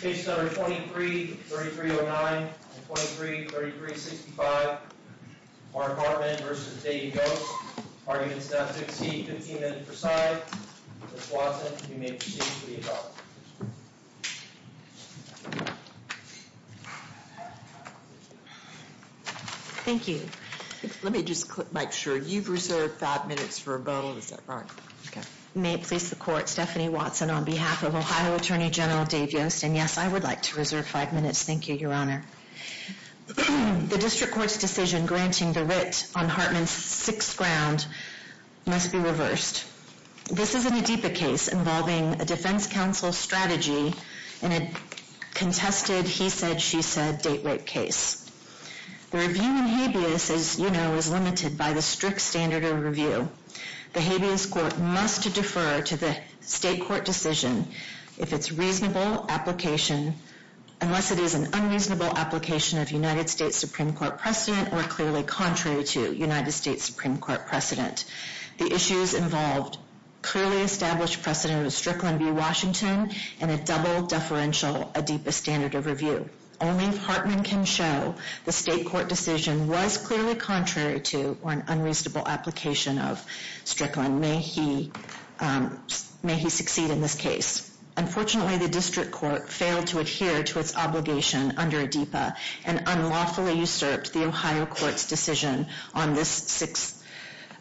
Case number 23-3309 and 23-3365. Mark Hartman v. Dave Yost. Arguments not to exceed 15 minutes per side. Ms. Watson, you may proceed to the adjournment. Thank you. Let me just make sure. You've reserved 5 minutes for a vote. Is that right? Okay. You may please support Stephanie Watson on behalf of Ohio Attorney General Dave Yost. And yes, I would like to reserve 5 minutes. Thank you, Your Honor. The District Court's decision granting the wit on Hartman's sixth ground must be reversed. This is an Adeepa case involving a defense counsel's strategy in a contested he-said-she-said date rape case. The review in habeas, as you know, is limited by the strict standard of review. The Habeas Court must defer to the State Court decision if its reasonable application, unless it is an unreasonable application of United States Supreme Court precedent or clearly contrary to United States Supreme Court precedent. The issues involved clearly established precedent with Strickland v. Washington and a double deferential Adeepa standard of review. Only if Hartman can show the State Court decision was clearly contrary to or an unreasonable application of Strickland may he succeed in this case. Unfortunately, the District Court failed to adhere to its obligation under Adeepa and unlawfully usurped the Ohio Court's decision on this sixth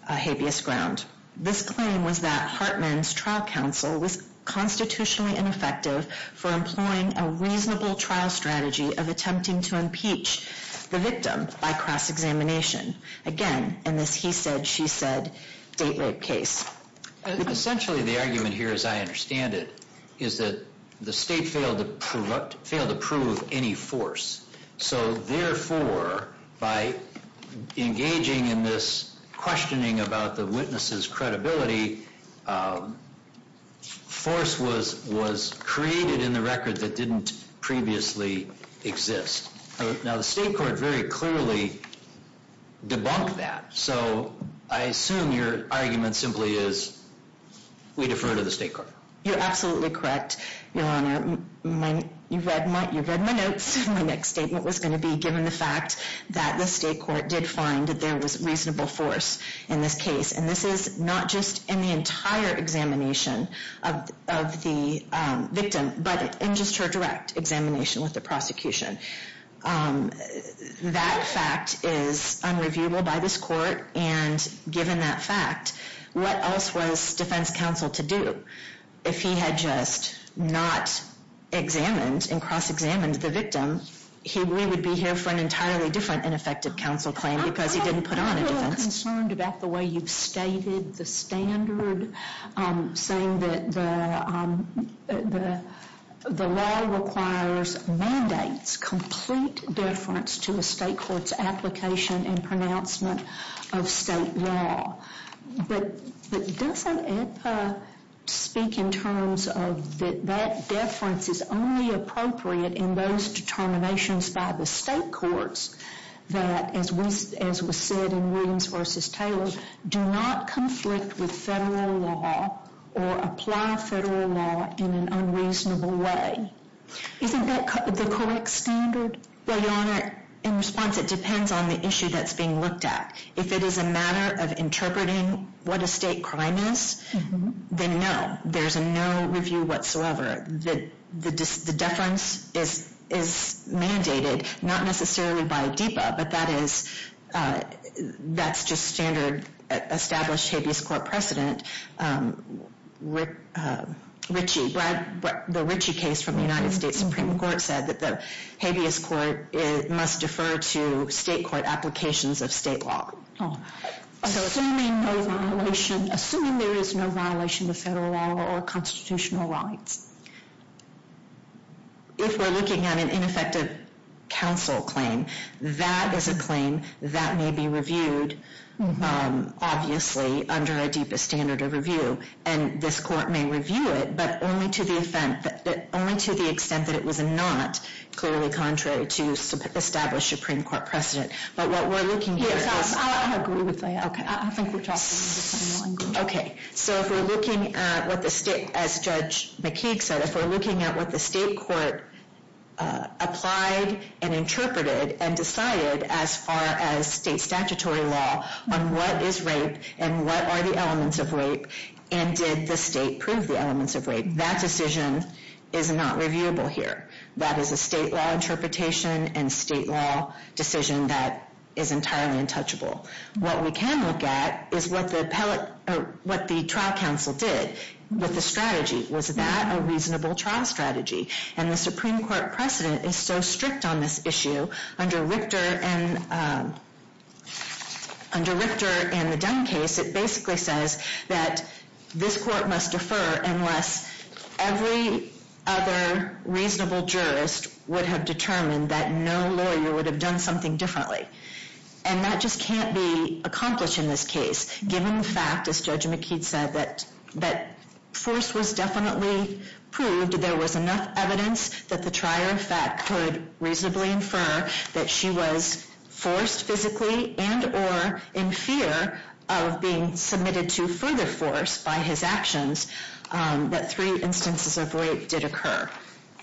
habeas ground. This claim was that Hartman's trial counsel was constitutionally ineffective for employing a reasonable trial strategy of attempting to impeach the victim by cross-examination. Again, in this he-said-she-said date rape case. Essentially, the argument here, as I understand it, is that the State failed to prove any force. So therefore, by engaging in this questioning about the witness's credibility, force was created in the record that didn't previously exist. Now, the State Court very clearly debunked that. So I assume your argument simply is we defer to the State Court. You're absolutely correct, Your Honor. You've read my notes. My next statement was going to be given the fact that the State Court did find that there was reasonable force in this case. And this is not just in the entire examination of the victim, but in just her direct examination with the prosecution. That fact is unreviewable by this Court. And given that fact, what else was defense counsel to do? If he had just not examined and cross-examined the victim, we would be here for an entirely different ineffective counsel claim because he didn't put on a defense. I'm concerned about the way you've stated the standard, saying that the law requires mandates, complete deference to a State Court's application and pronouncement of State law. But doesn't it speak in terms of that that deference is only appropriate in those determinations by the State Courts that, as was said in Williams v. Taylor, do not conflict with Federal law or apply Federal law in an unreasonable way? Isn't that the correct standard? Well, Your Honor, in response, it depends on the issue that's being looked at. If it is a matter of interpreting what a State crime is, then no, there's no review whatsoever. The deference is mandated, not necessarily by DEPA, but that's just standard established habeas court precedent. The Ritchie case from the United States Supreme Court said that the habeas court must defer to State court applications of State law. Assuming there is no violation of Federal law or constitutional rights. If we're looking at an ineffective counsel claim, that is a claim that may be reviewed, obviously, under a DEPA standard of review. And this Court may review it, but only to the extent that it was not clearly contrary to established Supreme Court precedent. Yes, I agree with that. I think we're talking in different languages. Okay, so if we're looking at what the State, as Judge McKeague said, if we're looking at what the State Court applied and interpreted and decided as far as State statutory law on what is rape and what are the elements of rape and did the State prove the elements of rape, that decision is not reviewable here. That is a State law interpretation and State law decision that is entirely untouchable. What we can look at is what the trial counsel did with the strategy. Was that a reasonable trial strategy? And the Supreme Court precedent is so strict on this issue, under Richter and the Dunn case, it basically says that this Court must defer unless every other reasonable jurist would have determined that no lawyer would have done something differently. And that just can't be accomplished in this case, given the fact, as Judge McKeague said, that force was definitely proved, there was enough evidence that the trier of fact could reasonably infer that she was forced physically and or in fear of being submitted to further force by his actions, that three instances of rape did occur.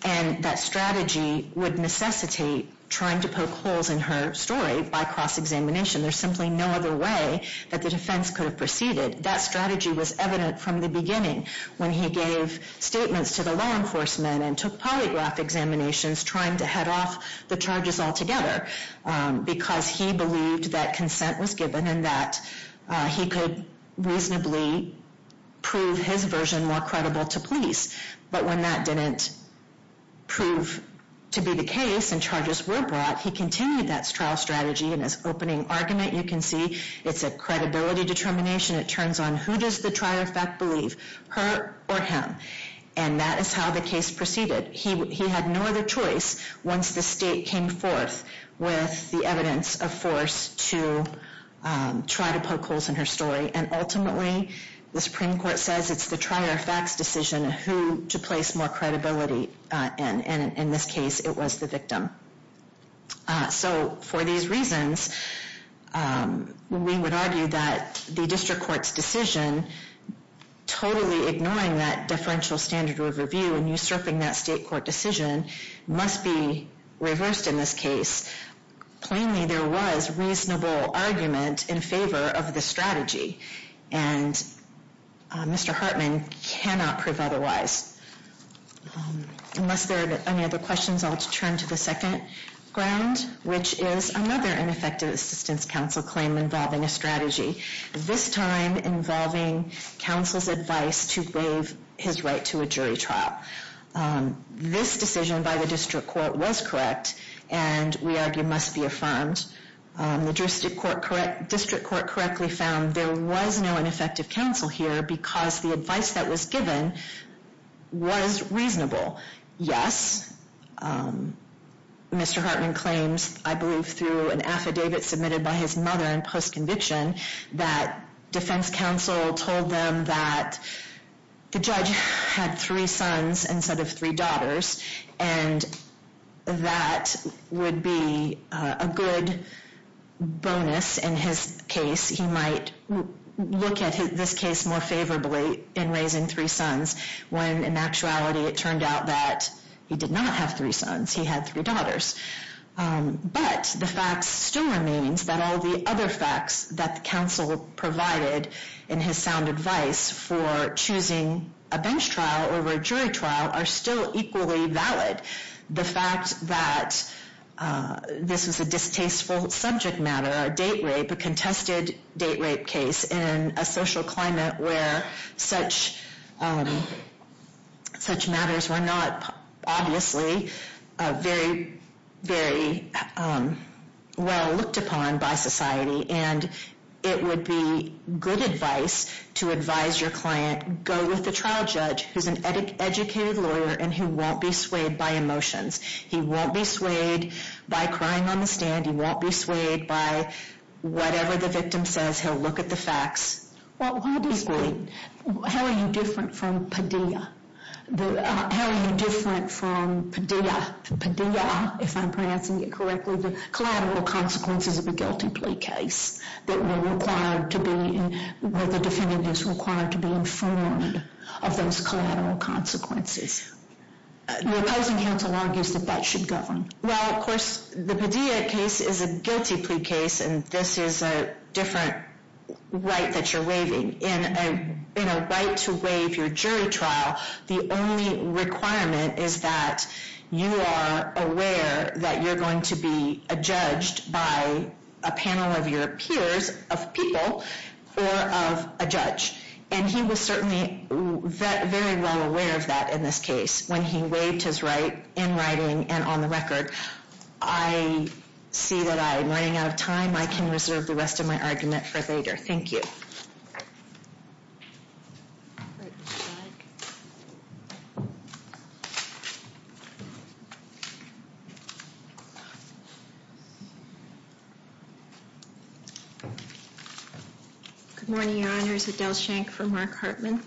And that strategy would necessitate trying to poke holes in her story by cross-examination. There's simply no other way that the defense could have proceeded. That strategy was evident from the beginning when he gave statements to the law enforcement and took polygraph examinations trying to head off the charges altogether, because he believed that consent was given and that he could reasonably prove his version more credible to police. But when that didn't prove to be the case and charges were brought, he continued that trial strategy. And his opening argument, you can see, it's a credibility determination. It turns on who does the trier of fact believe, her or him. And that is how the case proceeded. He had no other choice once the state came forth with the evidence of force to try to poke holes in her story. And ultimately, the Supreme Court says it's the trier of fact's decision who to place more credibility. And in this case, it was the victim. So for these reasons, we would argue that the district court's decision, totally ignoring that deferential standard of review and usurping that state court decision, must be reversed in this case. Plainly, there was reasonable argument in favor of the strategy. And Mr. Hartman cannot prove otherwise. Unless there are any other questions, I'll turn to the second ground, which is another ineffective assistance counsel claim involving a strategy. This time, involving counsel's advice to waive his right to a jury trial. This decision by the district court was correct, and we argue must be affirmed. The district court correctly found there was no ineffective counsel here because the advice that was given was reasonable. Yes, Mr. Hartman claims, I believe through an affidavit submitted by his mother in post-conviction, that defense counsel told them that the judge had three sons instead of three daughters, and that would be a good bonus in his case. He might look at this case more favorably in raising three sons, when in actuality it turned out that he did not have three sons. He had three daughters. But the fact still remains that all the other facts that the counsel provided in his sound advice for choosing a bench trial over a jury trial are still equally valid. The fact that this was a distasteful subject matter, a date rape, a contested date rape case, in a social climate where such matters were not obviously very, very well looked upon by society, and it would be good advice to advise your client, go with the trial judge, who's an educated lawyer and who won't be swayed by emotions. He won't be swayed by crying on the stand. He won't be swayed by whatever the victim says. He'll look at the facts. Well, how are you different from Padilla? How are you different from Padilla, if I'm pronouncing it correctly, the collateral consequences of a guilty plea case that were required to be, where the defendant is required to be informed of those collateral consequences? The opposing counsel argues that that should govern. Well, of course, the Padilla case is a guilty plea case, and this is a different right that you're waiving. In a right to waive your jury trial, the only requirement is that you are aware that you're going to be judged by a panel of your peers, of people, or of a judge. And he was certainly very well aware of that in this case when he waived his right in writing and on the record. I see that I am running out of time. I can reserve the rest of my argument for later. Thank you. Good morning, Your Honors. Adele Schenck for Mark Hartman.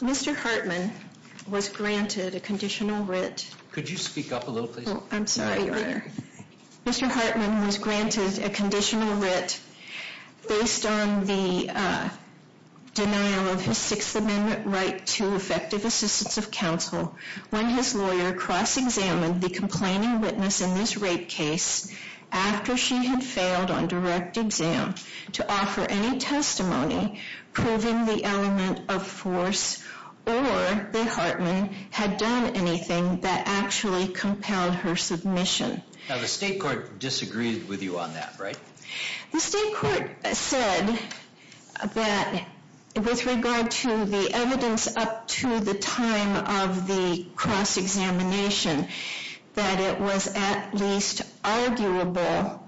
Mr. Hartman was granted a conditional writ. Could you speak up a little, please? I'm sorry, Your Honor. Mr. Hartman was granted a conditional writ based on the denial of his Sixth Amendment right to effective assistance of counsel when his lawyer cross-examined the complaining witness in this rape case after she had failed on direct exam to offer any testimony proving the element of force or that Hartman had done anything that actually compelled her submission. Now, the state court disagreed with you on that, right? The state court said that with regard to the evidence up to the time of the cross-examination, that it was at least arguable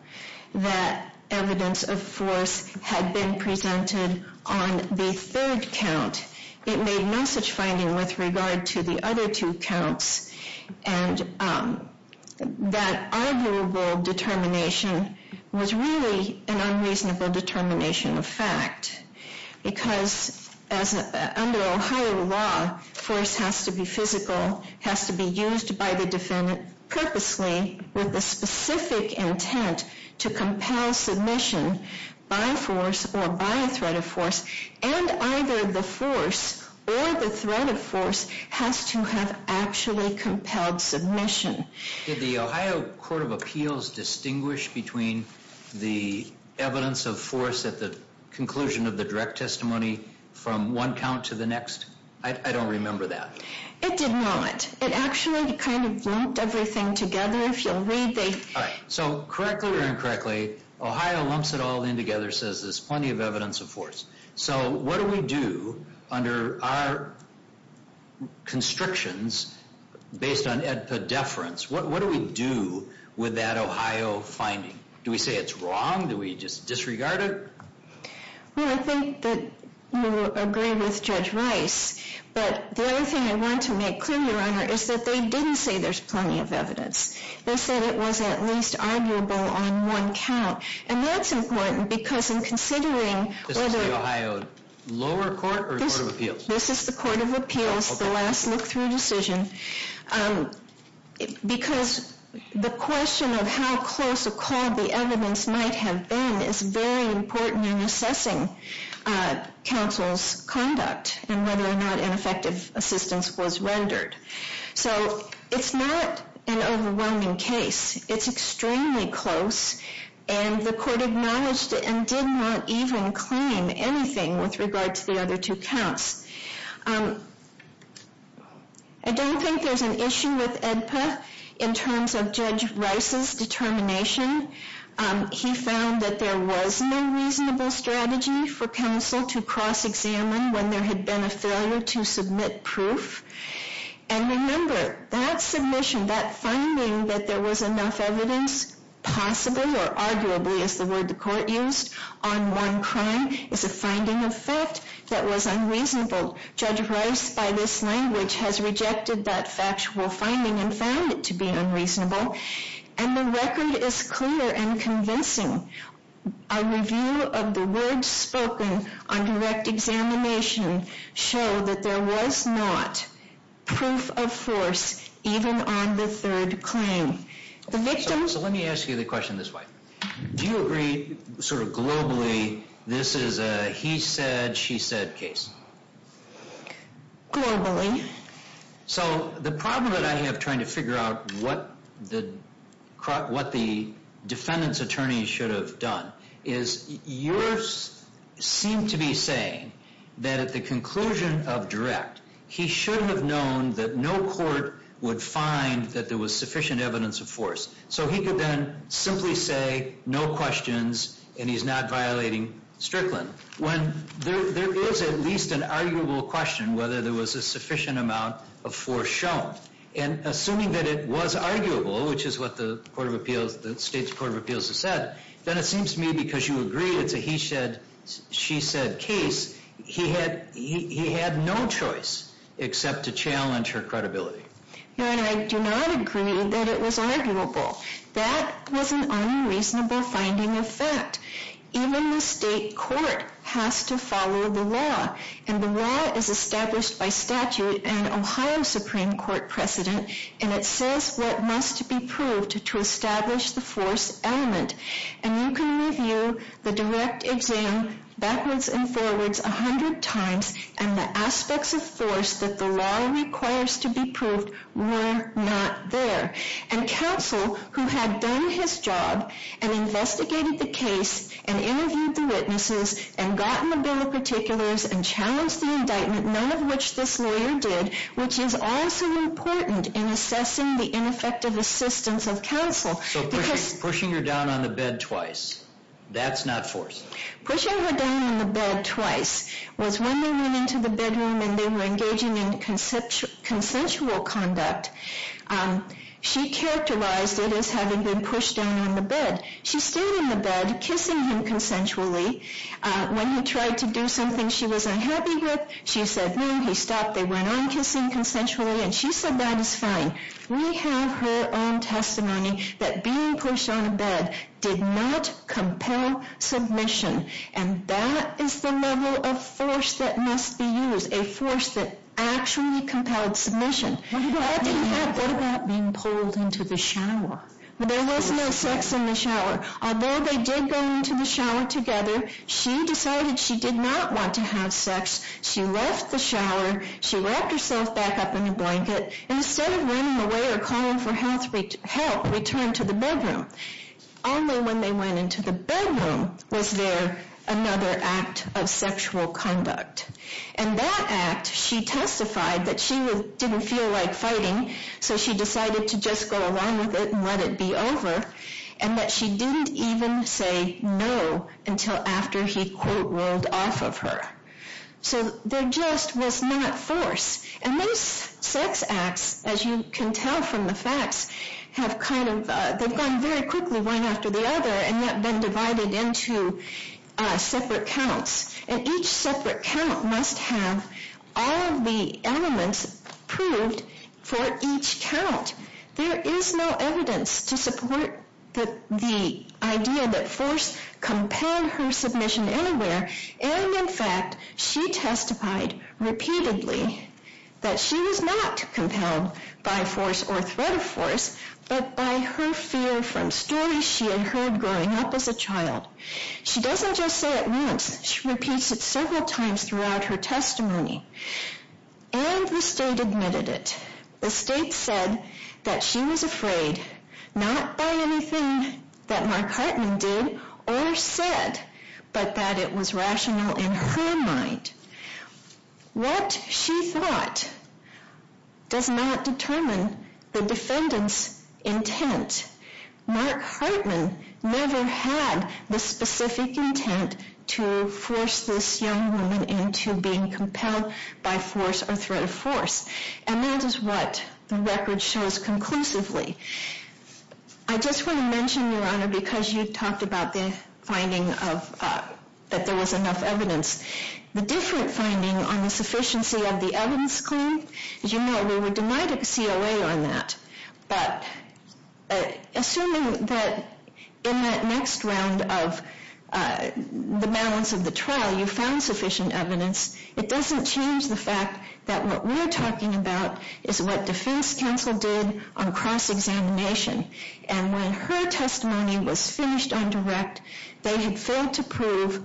that evidence of force had been presented on the third count. It made no such finding with regard to the other two counts. And that arguable determination was really an unreasonable determination of fact because under Ohio law, force has to be physical, has to be used by the defendant purposely with the specific intent to compel submission by force or by a threat of force. And either the force or the threat of force has to have actually compelled submission. Did the Ohio Court of Appeals distinguish between the evidence of force at the conclusion of the direct testimony from one count to the next? I don't remember that. It did not. It actually kind of lumped everything together. So, correctly or incorrectly, Ohio lumps it all in together and says there's plenty of evidence of force. So, what do we do under our constrictions based on EDPA deference? What do we do with that Ohio finding? Do we say it's wrong? Do we just disregard it? Well, I think that you agree with Judge Rice. But the other thing I want to make clear, Your Honor, is that they didn't say there's plenty of evidence. They said it was at least arguable on one count. And that's important because in considering whether... This is the Ohio lower court or the Court of Appeals? This is the Court of Appeals, the last look-through decision. Because the question of how close a call the evidence might have been is very important in assessing counsel's conduct and whether or not an effective assistance was rendered. So, it's not an overwhelming case. It's extremely close. And the court acknowledged it and did not even claim anything with regard to the other two counts. I don't think there's an issue with EDPA in terms of Judge Rice's determination. He found that there was no reasonable strategy for counsel to cross-examine when there had been a failure to submit proof. And remember, that submission, that finding that there was enough evidence, possible or arguably is the word the court used, on one crime is a finding of fact that was unreasonable. Judge Rice, by this language, has rejected that factual finding and found it to be unreasonable. And the record is clear and convincing. A review of the words spoken on direct examination show that there was not proof of force even on the third claim. So, let me ask you the question this way. Do you agree, sort of globally, this is a he said, she said case? Globally. So, the problem that I have trying to figure out what the defendant's attorney should have done is, yours seemed to be saying that at the conclusion of direct, he should have known that no court would find that there was sufficient evidence of force. So, he could then simply say, no questions, and he's not violating Strickland. When there is at least an arguable question whether there was a sufficient amount of force shown, and assuming that it was arguable, which is what the court of appeals, the state's court of appeals has said, then it seems to me because you agree it's a he said, she said case, he had no choice except to challenge her credibility. Your Honor, I do not agree that it was arguable. That was an unreasonable finding of fact. Even the state court has to follow the law. And the law is established by statute in Ohio Supreme Court precedent, and it says what must be proved to establish the force element. And you can review the direct exam backwards and forwards a hundred times, and the aspects of force that the law requires to be proved were not there. And counsel who had done his job and investigated the case and interviewed the witnesses and gotten the bill of particulars and challenged the indictment, none of which this lawyer did, which is also important in assessing the ineffective assistance of counsel. So, pushing her down on the bed twice, that's not force? Pushing her down on the bed twice was when they went into the bedroom and they were engaging in consensual conduct. She characterized it as having been pushed down on the bed. She stayed on the bed kissing him consensually. When he tried to do something she was unhappy with, she said no, he stopped. They went on kissing consensually, and she said that is fine. We have her own testimony that being pushed on a bed did not compel submission, and that is the level of force that must be used, a force that actually compelled submission. What about being pulled into the shower? There was no sex in the shower. Although they did go into the shower together, she decided she did not want to have sex. She left the shower, she wrapped herself back up in a blanket, and instead of running away or calling for help, returned to the bedroom. Only when they went into the bedroom was there another act of sexual conduct. And that act, she testified that she didn't feel like fighting, so she decided to just go along with it and let it be over, and that she didn't even say no until after he quote rolled off of her. So, there just was not force. And those sex acts, as you can tell from the facts, have kind of, they've gone very quickly one after the other, and yet been divided into separate counts. And each separate count must have all of the elements proved for each count. There is no evidence to support the idea that force compelled her submission anywhere, and in fact, she testified repeatedly that she was not compelled by force or threat of force, but by her fear from stories she had heard growing up as a child. She doesn't just say it once, she repeats it several times throughout her testimony. And the state admitted it. The state said that she was afraid, not by anything that Mark Hartman did or said, but that it was rational in her mind. What she thought does not determine the defendant's intent. Mark Hartman never had the specific intent to force this young woman into being compelled by force or threat of force. And that is what the record shows conclusively. I just want to mention, Your Honor, because you talked about the finding that there was enough evidence, the different finding on the sufficiency of the evidence claim, as you know, we were denied a COA on that, but assuming that in that next round of the balance of the trial you found sufficient evidence, it doesn't change the fact that what we're talking about is what defense counsel did on cross-examination. And when her testimony was finished on direct, they had failed to prove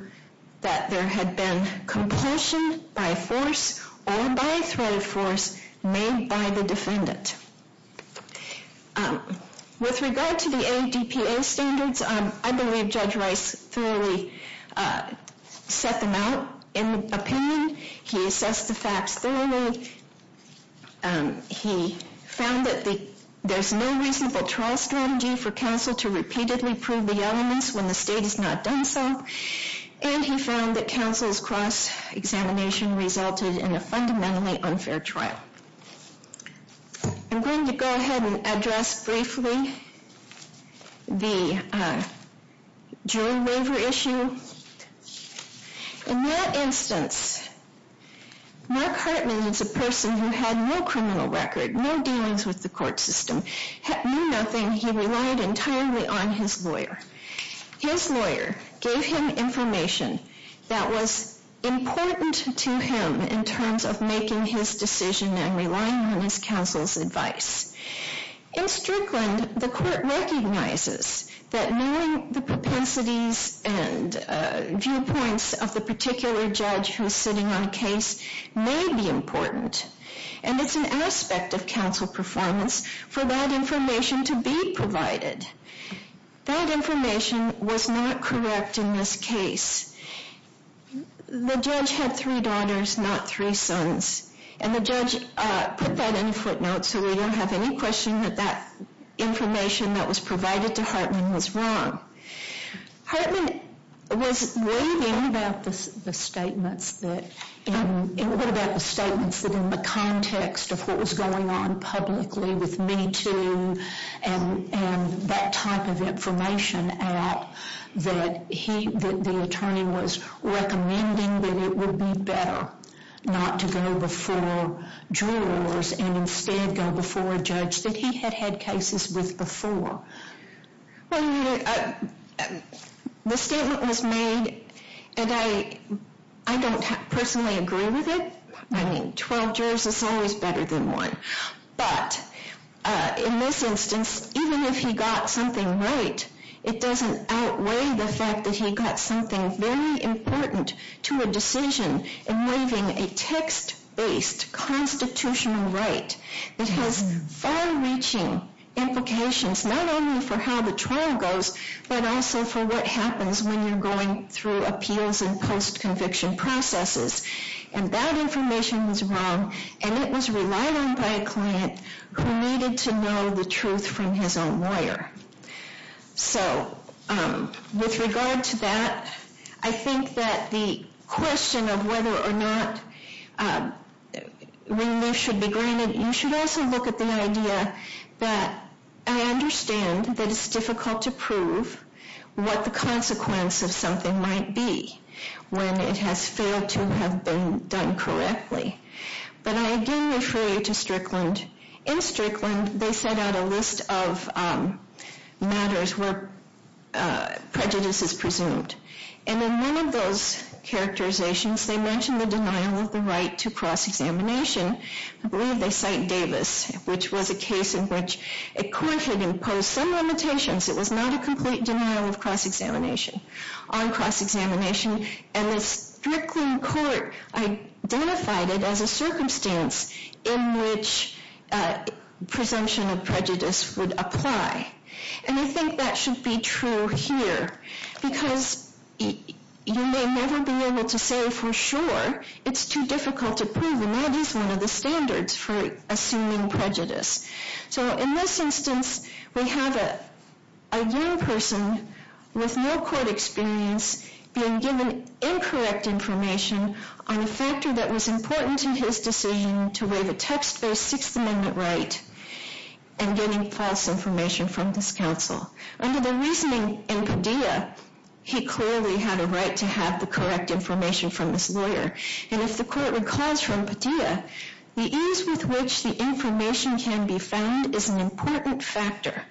that there had been compulsion by force or by threat of force made by the defendant. With regard to the ADPA standards, I believe Judge Rice thoroughly set them out in opinion. He assessed the facts thoroughly. He found that there's no reasonable trial strategy for counsel to repeatedly prove the elements when the state has not done so. And he found that counsel's cross-examination resulted in a fundamentally unfair trial. I'm going to go ahead and address briefly the jury waiver issue. In that instance, Mark Hartman is a person who had no criminal record, no dealings with the court system, knew nothing. He relied entirely on his lawyer. His lawyer gave him information that was important to him in terms of making his decision and relying on his counsel's advice. In Strickland, the court recognizes that knowing the propensities and viewpoints of the particular judge who's sitting on a case may be important. And it's an aspect of counsel performance for that information to be provided. That information was not correct in this case. The judge had three daughters, not three sons. And the judge put that in footnotes so we don't have any question that that information that was provided to Hartman was wrong. Hartman was raving about the statements that, what about the statements that in the context of what was going on publicly with Me Too and that type of information out that he, that the attorney was recommending that it would be better not to go before jurors and instead go before a judge that he had had cases with before. Well, the statement was made and I don't personally agree with it. I mean, 12 jurors is always better than one. But in this instance, even if he got something right, it doesn't outweigh the fact that he got something very important to a decision involving a text-based constitutional right that has far-reaching implications, not only for how the trial goes, but also for what happens when you're going through appeals and post-conviction processes. And that information was wrong. And it was relied on by a client who needed to know the truth from his own lawyer. So with regard to that, I think that the question of whether or not relief should be granted, you should also look at the idea that I understand that it's difficult to prove what the consequence of something might be when it has failed to have been done correctly. But I again refer you to Strickland. In Strickland, they set out a list of matters where prejudice is presumed. And in one of those characterizations, they mention the denial of the right to cross-examination. I believe they cite Davis, which was a case in which a court had imposed some limitations. It was not a complete denial of cross-examination, on cross-examination. And the Strickland court identified it as a circumstance in which presumption of prejudice would apply. And I think that should be true here. Because you may never be able to say for sure. It's too difficult to prove. And that is one of the standards for assuming prejudice. So in this instance, we have a young person with no court experience being given incorrect information on a factor that was important to his decision to waive a text-based Sixth Amendment right and getting false information from this counsel. Under the reasoning in Padilla, he clearly had a right to have the correct information from this lawyer. And if the court recalls from Padilla, the ease with which the information can be found is an important factor.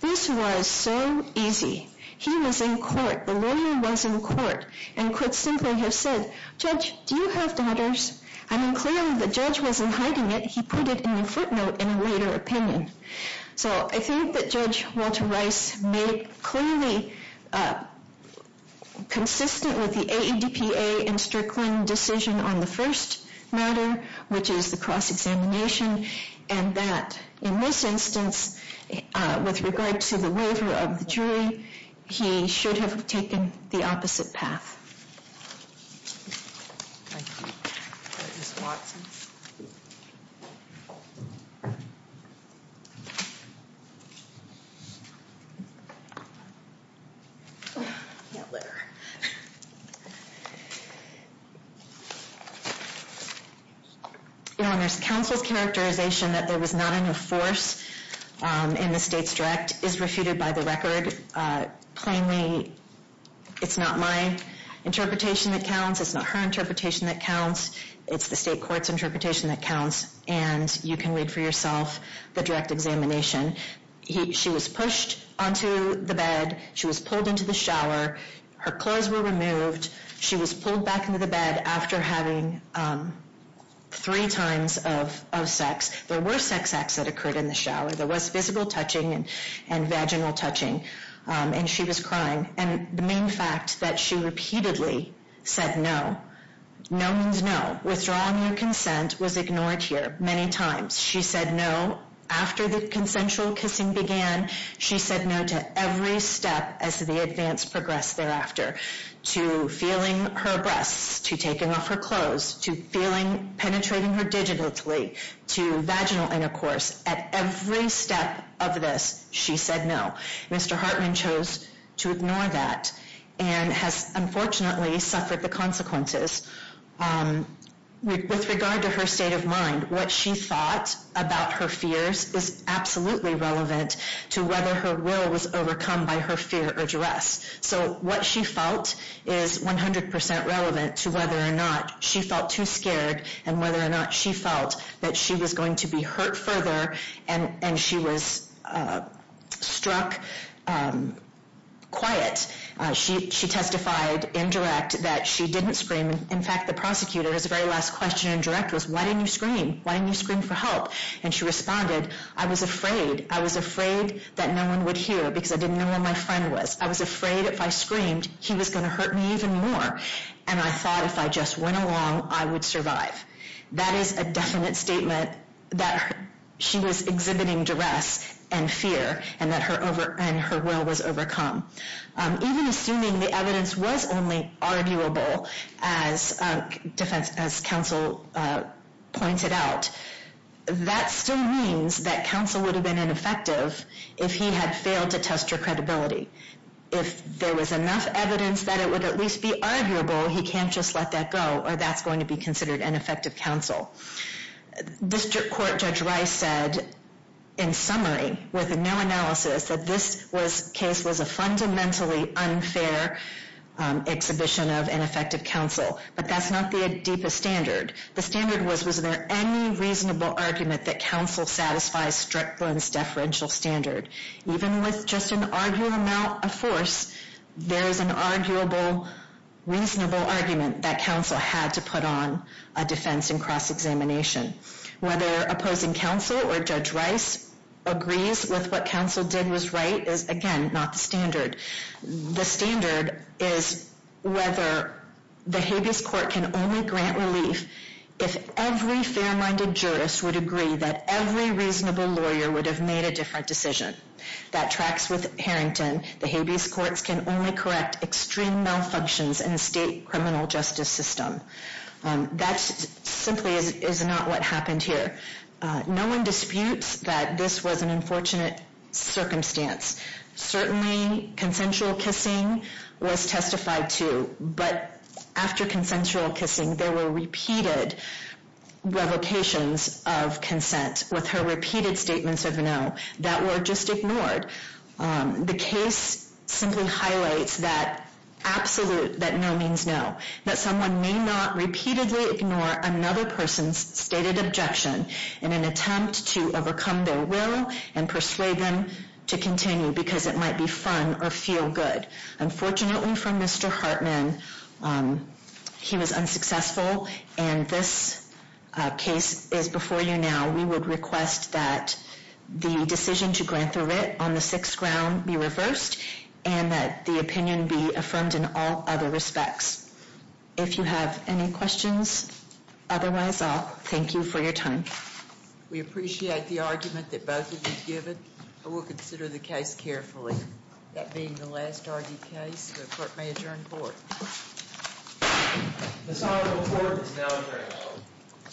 This was so easy. He was in court. The lawyer was in court and could simply have said, Judge, do you have daughters? I mean, clearly the judge wasn't hiding it. He put it in the footnote in a later opinion. So I think that Judge Walter Rice made it clearly consistent with the AEDPA and Strickland decision on the first matter, which is the cross-examination, and that in this instance, with regard to the waiver of the jury, he should have taken the opposite path. Counsel's characterization that there was not enough force in the state's direct is refuted by the record plainly. It's not my interpretation that counts. It's not her interpretation that counts. It's the state court's interpretation that counts. And you can read for yourself the direct examination. She was pushed onto the bed. She was pulled into the shower. Her clothes were removed. She was pulled back into the bed after having three times of sex. There were sex acts that occurred in the shower. There was physical touching and vaginal touching. And she was crying. And the main fact that she repeatedly said no, no means no. Withdrawing your consent was ignored here many times. She said no. After the consensual kissing began, she said no to every step as the advance progressed thereafter, to feeling her breasts, to taking off her clothes, to feeling, penetrating her digitally, to vaginal intercourse. At every step of this, she said no. Mr. Hartman chose to ignore that and has unfortunately suffered the consequences. With regard to her state of mind, what she thought about her fears is absolutely relevant to whether her will was overcome by her fear or duress. So what she felt is 100 percent relevant to whether or not she felt too scared and whether or not she felt that she was going to be hurt further and she was struck quiet. She testified in direct that she didn't scream. In fact, the prosecutor's very last question in direct was, why didn't you scream? Why didn't you scream for help? And she responded, I was afraid. I was afraid that no one would hear because I didn't know where my friend was. I was afraid if I screamed, he was going to hurt me even more. And I thought if I just went along, I would survive. That is a definite statement that she was exhibiting duress and fear and that her will was overcome. Even assuming the evidence was only arguable, as counsel pointed out, that still means that counsel would have been ineffective if he had failed to test her credibility. If there was enough evidence that it would at least be arguable, he can't just let that go, or that's going to be considered ineffective counsel. District Court Judge Rice said, in summary, with no analysis, that this case was a fundamentally unfair exhibition of ineffective counsel. But that's not the deepest standard. The standard was, was there any reasonable argument that counsel satisfies Strickland's deferential standard? Even with just an arguable amount of force, there is an arguable, reasonable argument that counsel had to put on a defense and cross-examination. Whether opposing counsel or Judge Rice agrees with what counsel did was right is, again, not the standard. The standard is whether the habeas court can only grant relief if every fair-minded jurist would agree that every reasonable lawyer would have made a different decision. That tracks with Harrington. The habeas courts can only correct extreme malfunctions in the state criminal justice system. That simply is not what happened here. No one disputes that this was an unfortunate circumstance. Certainly, consensual kissing was testified to. But after consensual kissing, there were repeated revocations of consent with her repeated statements of no that were just ignored. The case simply highlights that absolute, that no means no, that someone may not repeatedly ignore another person's stated objection in an attempt to overcome their will and persuade them to continue because it might be fun or feel good. Unfortunately for Mr. Hartman, he was unsuccessful, and this case is before you now. We would request that the decision to grant the writ on the sixth ground be reversed and that the opinion be affirmed in all other respects. If you have any questions, otherwise, I'll thank you for your time. We appreciate the argument that both of you have given, and we'll consider the case carefully. That being the last argued case, the court may adjourn the court. This honorable court is now adjourned.